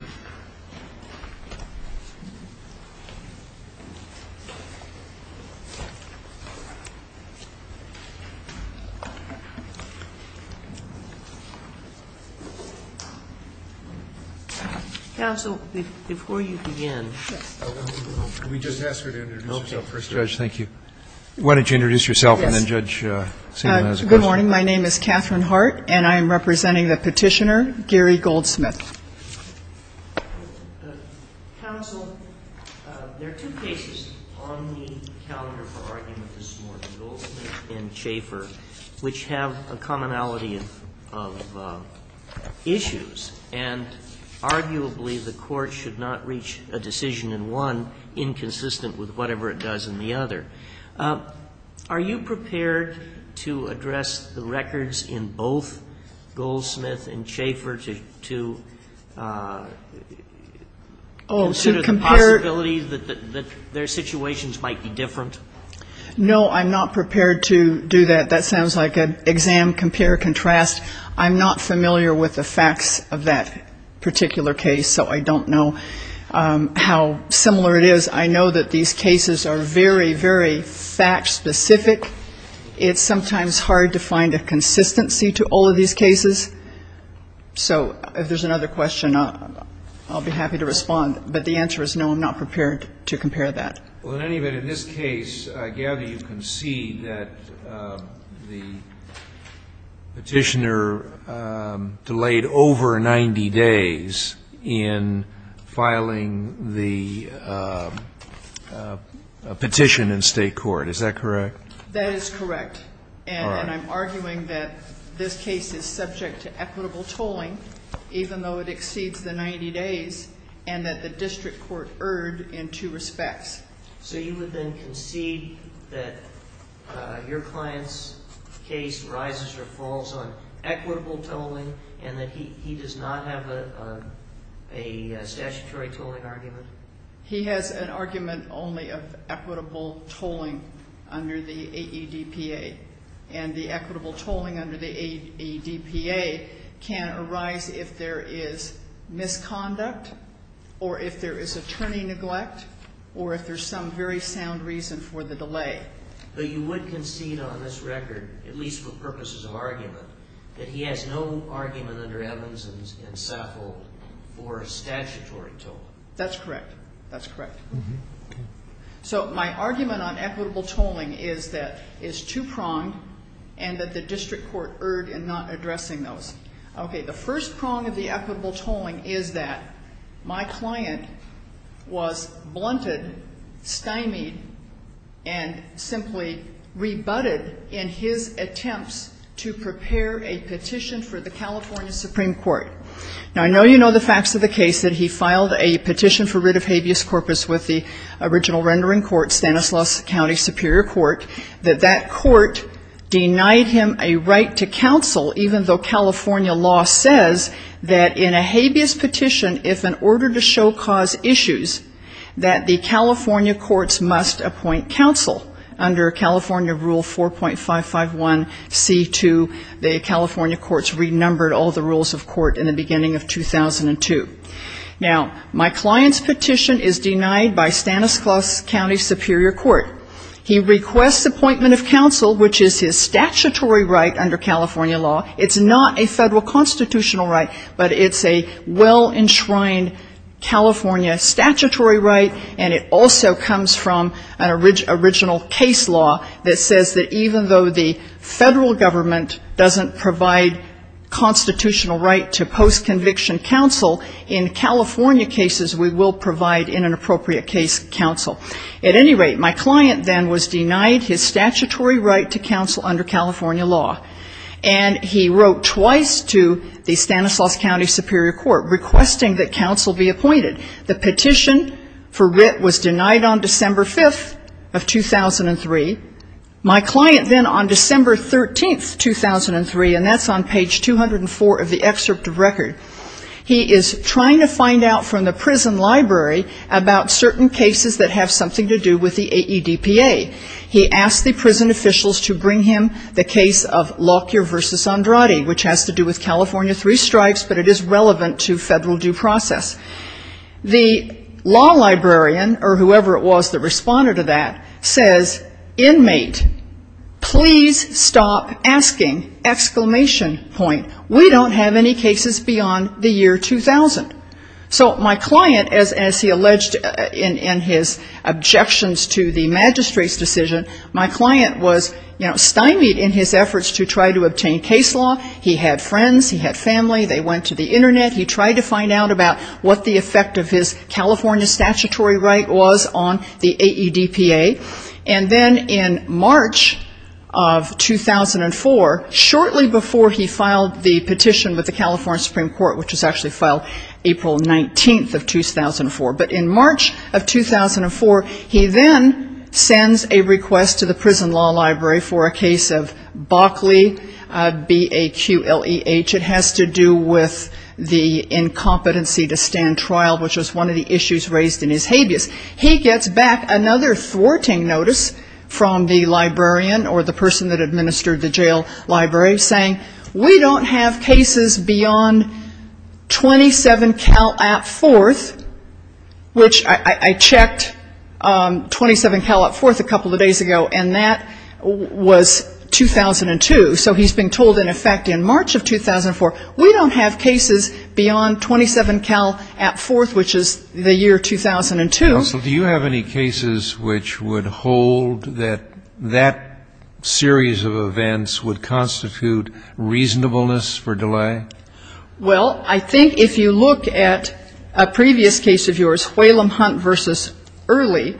Good morning, my name is Catherine Hart and I am representing the petitioner Gary Goldsmith. Counsel, there are two cases on the calendar for argument this morning, Goldsmith and Chafer, which have a commonality of issues and arguably the court should not reach a decision in one inconsistent with whatever it does in the other. Are you prepared to address the records in both Goldsmith and Chafer to consider the possibility that their situations might be different? No, I'm not prepared to do that. That sounds like an exam compare contrast. I'm not familiar with the facts of that particular case, so I don't know how similar it is. I know that these cases are very, very fact specific. It's sometimes hard to find a consistency to all of these cases. So if there's another question, I'll be happy to respond. But the answer is no, I'm not prepared to compare that. Well, in any event, in this case, I gather you concede that the petitioner delayed over 90 days in filing the petition in state court, is that correct? That is correct. And I'm arguing that this case is subject to equitable tolling, even though it exceeds the 90 days and that the district court erred in two respects. So you would then concede that your client's case rises or falls on equitable tolling and that he does not have a statutory tolling argument? He has an argument only of equitable tolling under the AEDPA. And the equitable tolling under the AEDPA can arise if there is misconduct or if there is attorney neglect or if there's some very sound reason for the delay. But you would concede on this record, at least for purposes of argument, that he has no argument under Evans and Saffold for a statutory tolling? That's correct. That's correct. So my argument on equitable tolling is that it's two-pronged and that the district court erred in not addressing those. Okay. The first prong of the equitable tolling is that my client was blunted, stymied, and simply rebutted in his attempts to prepare a petition for the California Supreme Court. Now, I know you know the facts of the case that he filed a petition for writ of habeas corpus with the original rendering court, Stanislaus County Superior Court, that that court denied him a right to counsel, even though California law says that in a habeas petition, if an order to show cause issues, that the California courts must appoint counsel. Under California Rule 4.551C2, the California courts renumbered all the rules of court in the beginning of 2002. Now, my client's petition is denied by Stanislaus County Superior Court. He requests appointment of counsel, which is his statutory right under California law. It's not a federal constitutional right, but it's a well-enshrined California statutory right, and it also comes from an original case law that says that even though the federal government doesn't provide constitutional right to post-conviction counsel, in California cases, we will provide in an appropriate case counsel. At any rate, my client then was denied his statutory right to counsel under California law, and he wrote twice to the Stanislaus County Superior Court requesting that counsel be appointed. The petition for writ was denied on December 5th of 2003. My client then on December 13th, 2003, and that's on page 204 of the excerpt of record, he is trying to find out from the prison library about certain cases that have something to do with the AEDPA. He asked the prison officials to bring him the case of Lockyer v. Andrade, which has to do with California Three Strikes, but it is relevant to federal due process. The law librarian, or whoever it was that responded to that, says, inmate, please stop asking! We don't have any cases beyond the year 2000. So my client, as he alleged in his objections to the magistrate's decision, my client was, you know, he had friends, he had family, they went to the Internet. He tried to find out about what the effect of his California statutory right was on the AEDPA. And then in March of 2004, shortly before he filed the petition with the California Supreme Court, which was actually filed April 19th of 2004, but in March of 2004, he then sends a request to the prison law library for a case of Bockley, B-A-Q-L-E-H. It has to do with the incompetency to stand trial, which was one of the issues raised in his habeas. He gets back another thwarting notice from the librarian or the person that administered the jail library, saying, we don't have cases beyond 27 Cal at 4th, which I checked, 27 Cal at 4th a couple of days ago, and that was 2002. So he's been told, in effect, in March of 2004, we don't have cases beyond 27 Cal at 4th, which is the year 2002. Do you have any cases which would hold that that series of events would constitute reasonableness for delay? Well, I think if you look at a previous case of yours, Whalum Hunt v. Early,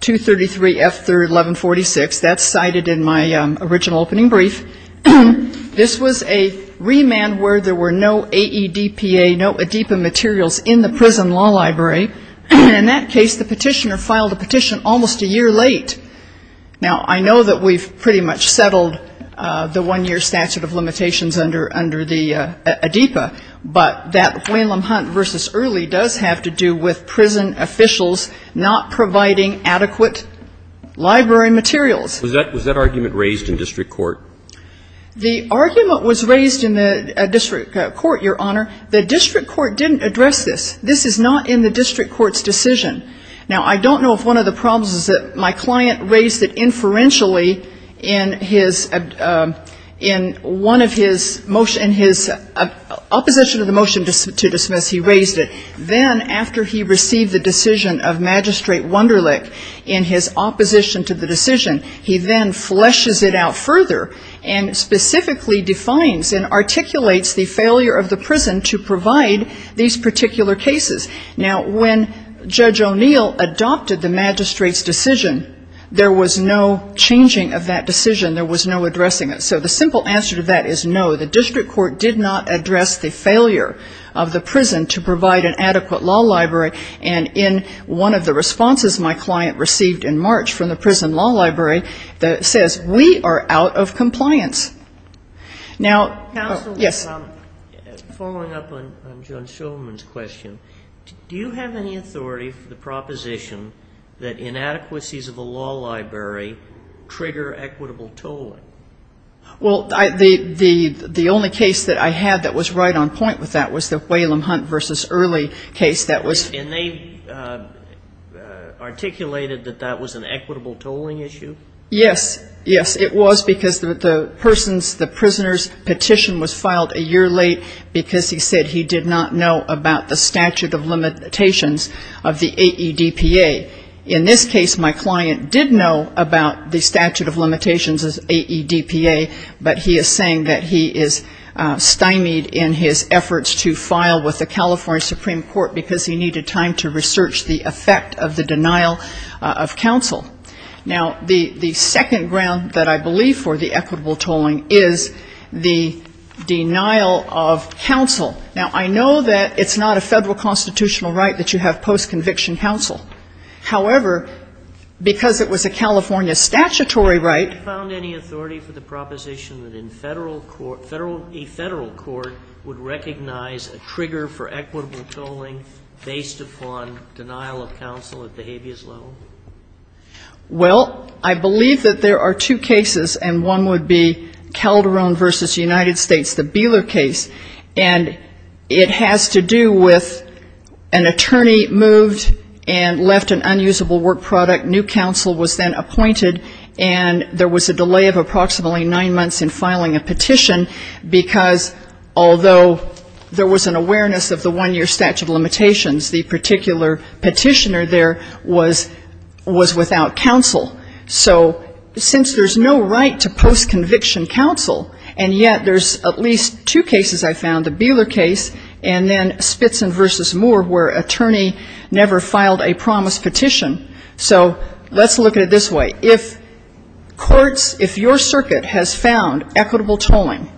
233 F. 3rd, 1146. That's cited in my original opening brief. This was a remand where there were no AEDPA, no ADEPA materials in the prison law library. And in that case, the petitioner filed a petition almost a year late. Now, I know that we've pretty much settled the one-year statute of limitations under the ADEPA, but that Whalum Hunt v. Early does have to do with prison officials not providing adequate library materials. Was that argument raised in district court? The argument was raised in the district court, Your Honor. The district court didn't address this. This is not in the district court's decision. Now, I don't know if one of the problems is that my client raised it inferentially in his opposition to the motion to dismiss. He raised it. Then after he received the decision of Magistrate Wunderlich in his opposition to the decision, he then fleshes it out further and specifically defines and articulates the failure of the prison to provide these particular cases. Now, when Judge O'Neill adopted the magistrate's decision, there was no changing of that decision. There was no addressing it. So the simple answer to that is no, the district court did not address the failure of the prison to provide an adequate law library. And in one of the responses my client received in March from the prison law library that says, we are out of compliance. Now, yes. Counsel, following up on John Shulman's question, do you have any authority for the proposition that inadequacies of a law library trigger equitable tolling? Well, the only case that I had that was right on point with that was the Whalum Hunt v. Early case. And they articulated that that was an equitable tolling issue? Yes. Yes, it was, because the person's, the prisoner's petition was filed a year late because he said he did not know about the statute of limitations of the AEDPA. In this case, my client did know about the statute of limitations of the AEDPA, but he is saying that he is stymied in his efforts to file with the California Supreme Court because he needed time to do it. He needed time to research the effect of the denial of counsel. Now, the second ground that I believe for the equitable tolling is the denial of counsel. Now, I know that it's not a Federal constitutional right that you have post-conviction counsel. However, because it was a California statutory right. Have you found any authority for the proposition that in Federal court, a Federal court would recognize a trigger for equitable tolling based upon denial of counsel at the habeas level? Well, I believe that there are two cases, and one would be Calderon v. United States, the Beeler case. And it has to do with an attorney moved and left an unusable work product. New counsel was then appointed, and there was a delay of approximately nine months in filing a petition, because although there was an awareness of the one-year statute of limitations, the particular petitioner there was without counsel. So since there's no right to post-conviction counsel, and yet there's at least two cases I found, the Beeler case, and then Spitzen v. Moore, where an attorney never filed a promised petition. So let's look at it this way. If courts, if your circuit has found equitable tolling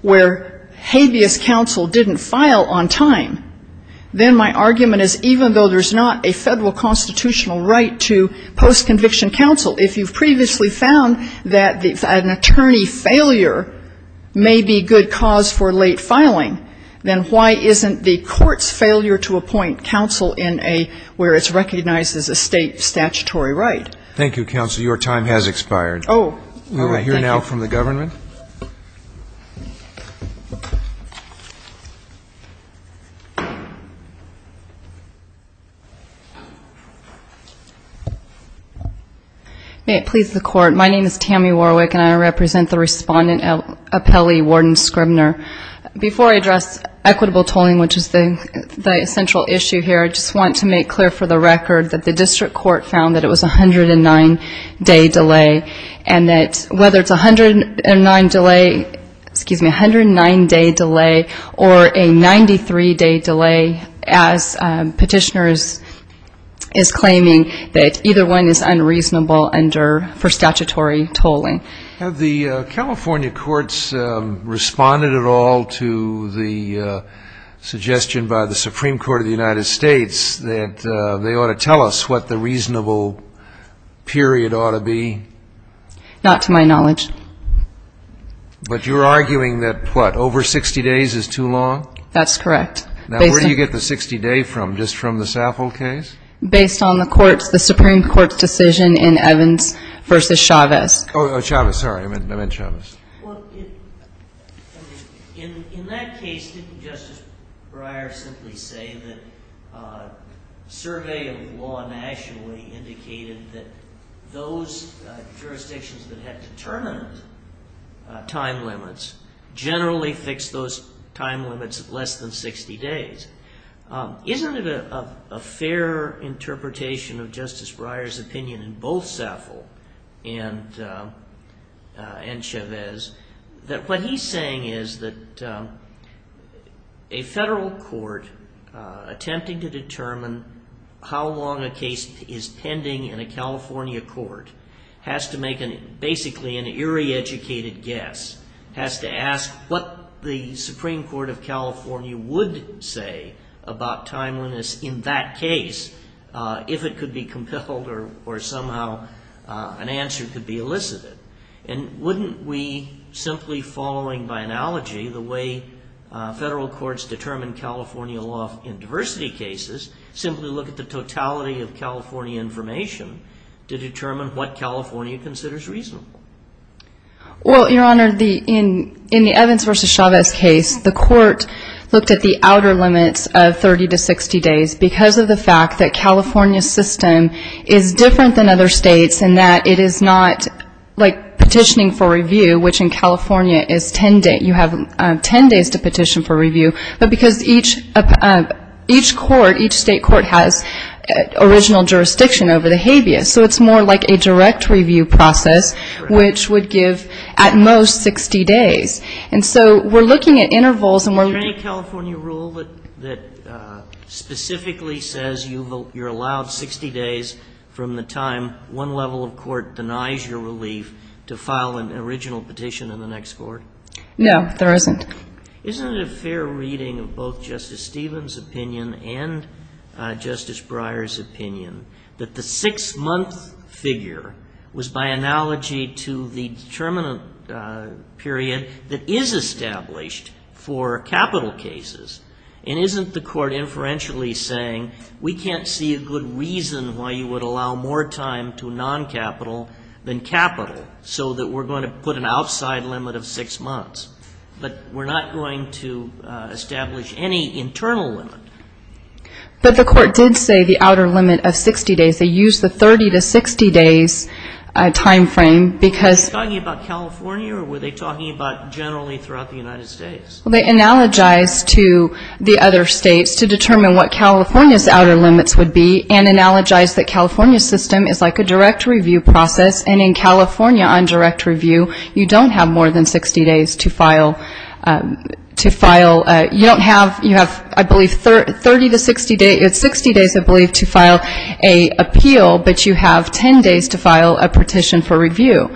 where habeas counsel didn't file on time, then my argument is even though there's not a Federal constitutional right to post-conviction counsel, if you've previously found that an attorney failure may be good cause for late filing, then why isn't the court's failure to appoint counsel in a, where it's recognized as a state statutory right? Thank you, counsel. Your time has expired. May it please the Court, my name is Tammy Warwick, and I represent the Respondent Appellee, Warden Scribner. Before I address equitable tolling, which is the central issue here, I just want to make clear for the record that the District Court found that it was a 109-day delay, and that whether it's a 109-day delay or a 93-day delay, as Petitioner is claiming, that either one is unreasonable under, for statutory tolling. Have the California courts responded at all to the suggestion by the Supreme Court of the United States that they ought to tell us what the reasonable period ought to be? Not to my knowledge. But you're arguing that, what, over 60 days is too long? That's correct. Now, where do you get the 60-day from, just from the Saffold case? Based on the court's, the Supreme Court's decision in Evans v. Chavez. Oh, Chavez, sorry, I meant Chavez. Well, in that case, didn't Justice Breyer simply say that survey of law nationally indicated that those jurisdictions that had determined time limits generally fixed those time limits at less than 60 days? Isn't it a fair interpretation of Justice Breyer's opinion in both Saffold and Chavez that what he's saying is that a federal court attempting to determine how long a case is pending in a California court has to make basically an eerie educated guess, has to ask what the Supreme Court of California would say about time limits in that case, if it could be compelled or somehow an answer could be elicited. And wouldn't we, simply following by analogy the way federal courts determine California law in diversity cases, simply look at the totality of California information to determine what California considers reasonable? Well, Your Honor, in the Evans v. Chavez case, the court looked at the outer limits of 30 to 60 days because of the fact that California's system is different than other states in that it is not like petitioning for review, which in California is 10 days. You have 10 days to petition for review, but because each court, each state court has original jurisdiction over the habeas. So it's more like a direct review process, which would give at most 60 days. And so we're looking at intervals and we're looking at intervals. Is there a rule that specifically says you're allowed 60 days from the time one level of court denies your relief to file an original petition in the next court? No, there isn't. Isn't it a fair reading of both Justice Stevens' opinion and Justice Breyer's opinion that the six-month figure was by analogy to the determinant period that is established for capital cases? And isn't the court inferentially saying we can't see a good reason why you would allow more time to non-capital than capital so that we're going to put an outside limit of six months? But we're not going to establish any internal limit. But the court did say the outer limit of 60 days. They used the 30 to 60 days time frame because they analogized to the other states to determine what California's outer limits would be and analogized that California's system is like a direct review process. And in California on direct review, you don't have more than 60 days to file. You don't have, you have, I believe, 30 to 60 days, 60 days, I believe, to file an appeal, but you have 10 days to file a petition for review.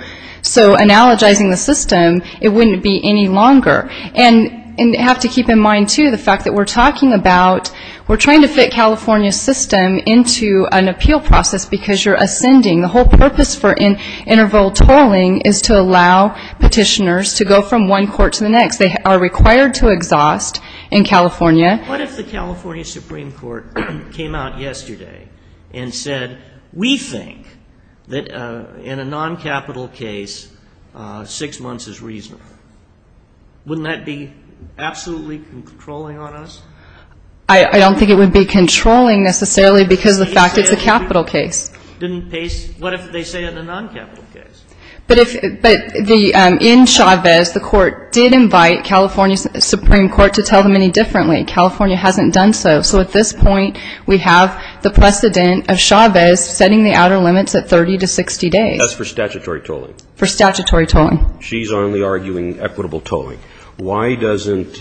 So analogizing the system, it wouldn't be any longer. And you have to keep in mind, too, the fact that we're talking about, we're trying to fit California's system into an appeal process because you're ascending. The whole purpose for interval tolling is to allow petitioners to go from one court to the next. They are required to exhaust in California. What if the California Supreme Court came out yesterday and said we think that in a noncapital case, six months is reasonable? Wouldn't that be absolutely controlling on us? I don't think it would be controlling necessarily because of the fact it's a capital case. Didn't pace, what if they say in a noncapital case? But in Chavez, the Court did invite California's Supreme Court to tell them any differently. California hasn't done so. So at this point, we have the precedent of Chavez setting the outer limits at 30 to 60 days. That's for statutory tolling. She's only arguing equitable tolling. Why doesn't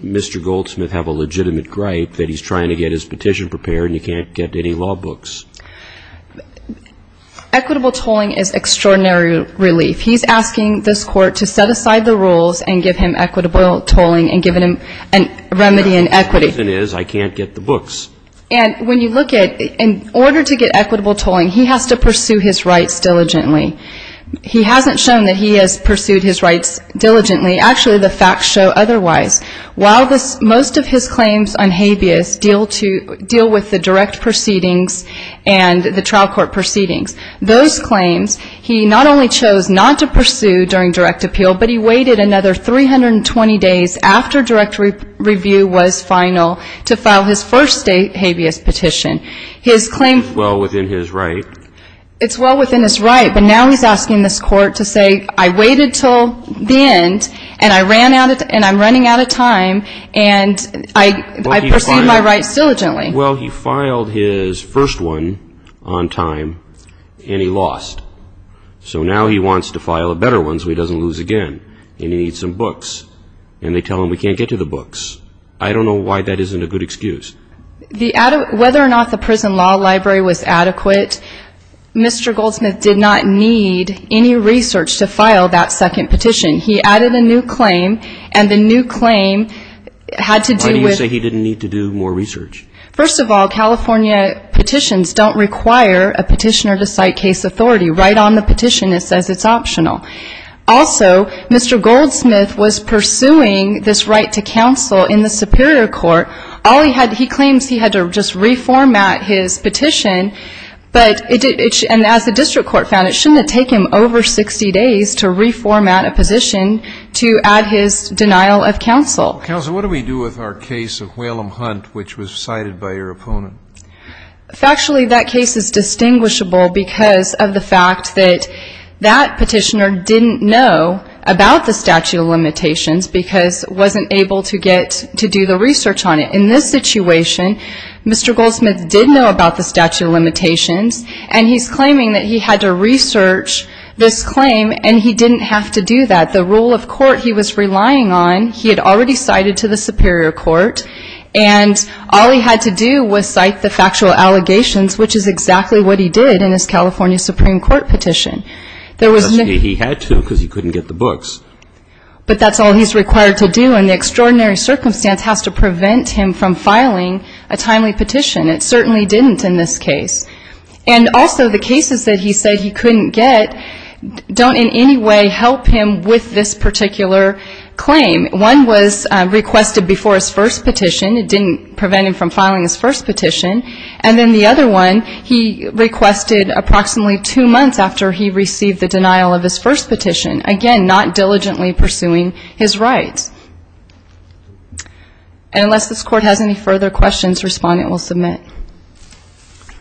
Mr. Goldsmith have a legitimate gripe that he's trying to get his petition prepared and you can't get any law books? Equitable tolling is extraordinary relief. He's asking this Court to set aside the rules and give him equitable tolling and give him a remedy in equity. And when you look at, in order to get equitable tolling, he has to pursue his rights diligently. He hasn't shown that he has pursued his rights diligently. Actually, the facts show otherwise. While most of his claims on habeas deal with the direct proceedings and the trial court proceedings, those claims, he not only chose not to pursue during direct appeal, but he waited another 320 days after direct review was final to file his first state habeas petition. It's well within his right. But now he's asking this Court to say, I waited until the end, and I'm running out of time, and I pursued my rights diligently. Well, he filed his first one on time, and he lost. So now he wants to file a better one so he doesn't lose again, and he needs some books. And they tell him we can't get to the books. I don't know why that isn't a good excuse. Whether or not the prison law library was adequate, Mr. Goldsmith did not need any research to file that second petition. He added a new claim, and the new claim had to do with... It says it's optional. Also, Mr. Goldsmith was pursuing this right to counsel in the superior court. He claims he had to just reformat his petition, and as the district court found, it shouldn't have taken him over 60 days to reformat a position to add his denial of counsel. Counsel, what do we do with our case of Whalum Hunt, which was cited by your opponent? Factually, that case is distinguishable because of the fact that that petitioner didn't know about the statute of limitations because wasn't able to get to do the research on it. In this situation, Mr. Goldsmith did know about the statute of limitations, and he's claiming that he had to research this claim, and he didn't have to do that. The rule of court he was relying on, he had already cited to the superior court, and all he had to do was cite it to the superior court. He didn't write the factual allegations, which is exactly what he did in his California Supreme Court petition. He had to because he couldn't get the books. But that's all he's required to do, and the extraordinary circumstance has to prevent him from filing a timely petition. It certainly didn't in this case. And also, the cases that he said he couldn't get don't in any way help him with this particular claim. One was requested before his first petition. It didn't prevent him from filing his first petition. And then the other one, he requested approximately two months after he received the denial of his first petition. Again, not diligently pursuing his rights. And unless this Court has any further questions, Respondent will submit.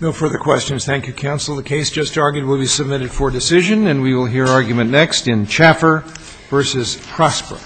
No further questions. Thank you, counsel. The case just argued will be submitted for decision, and we will hear argument next in Chaffer v. Prosper.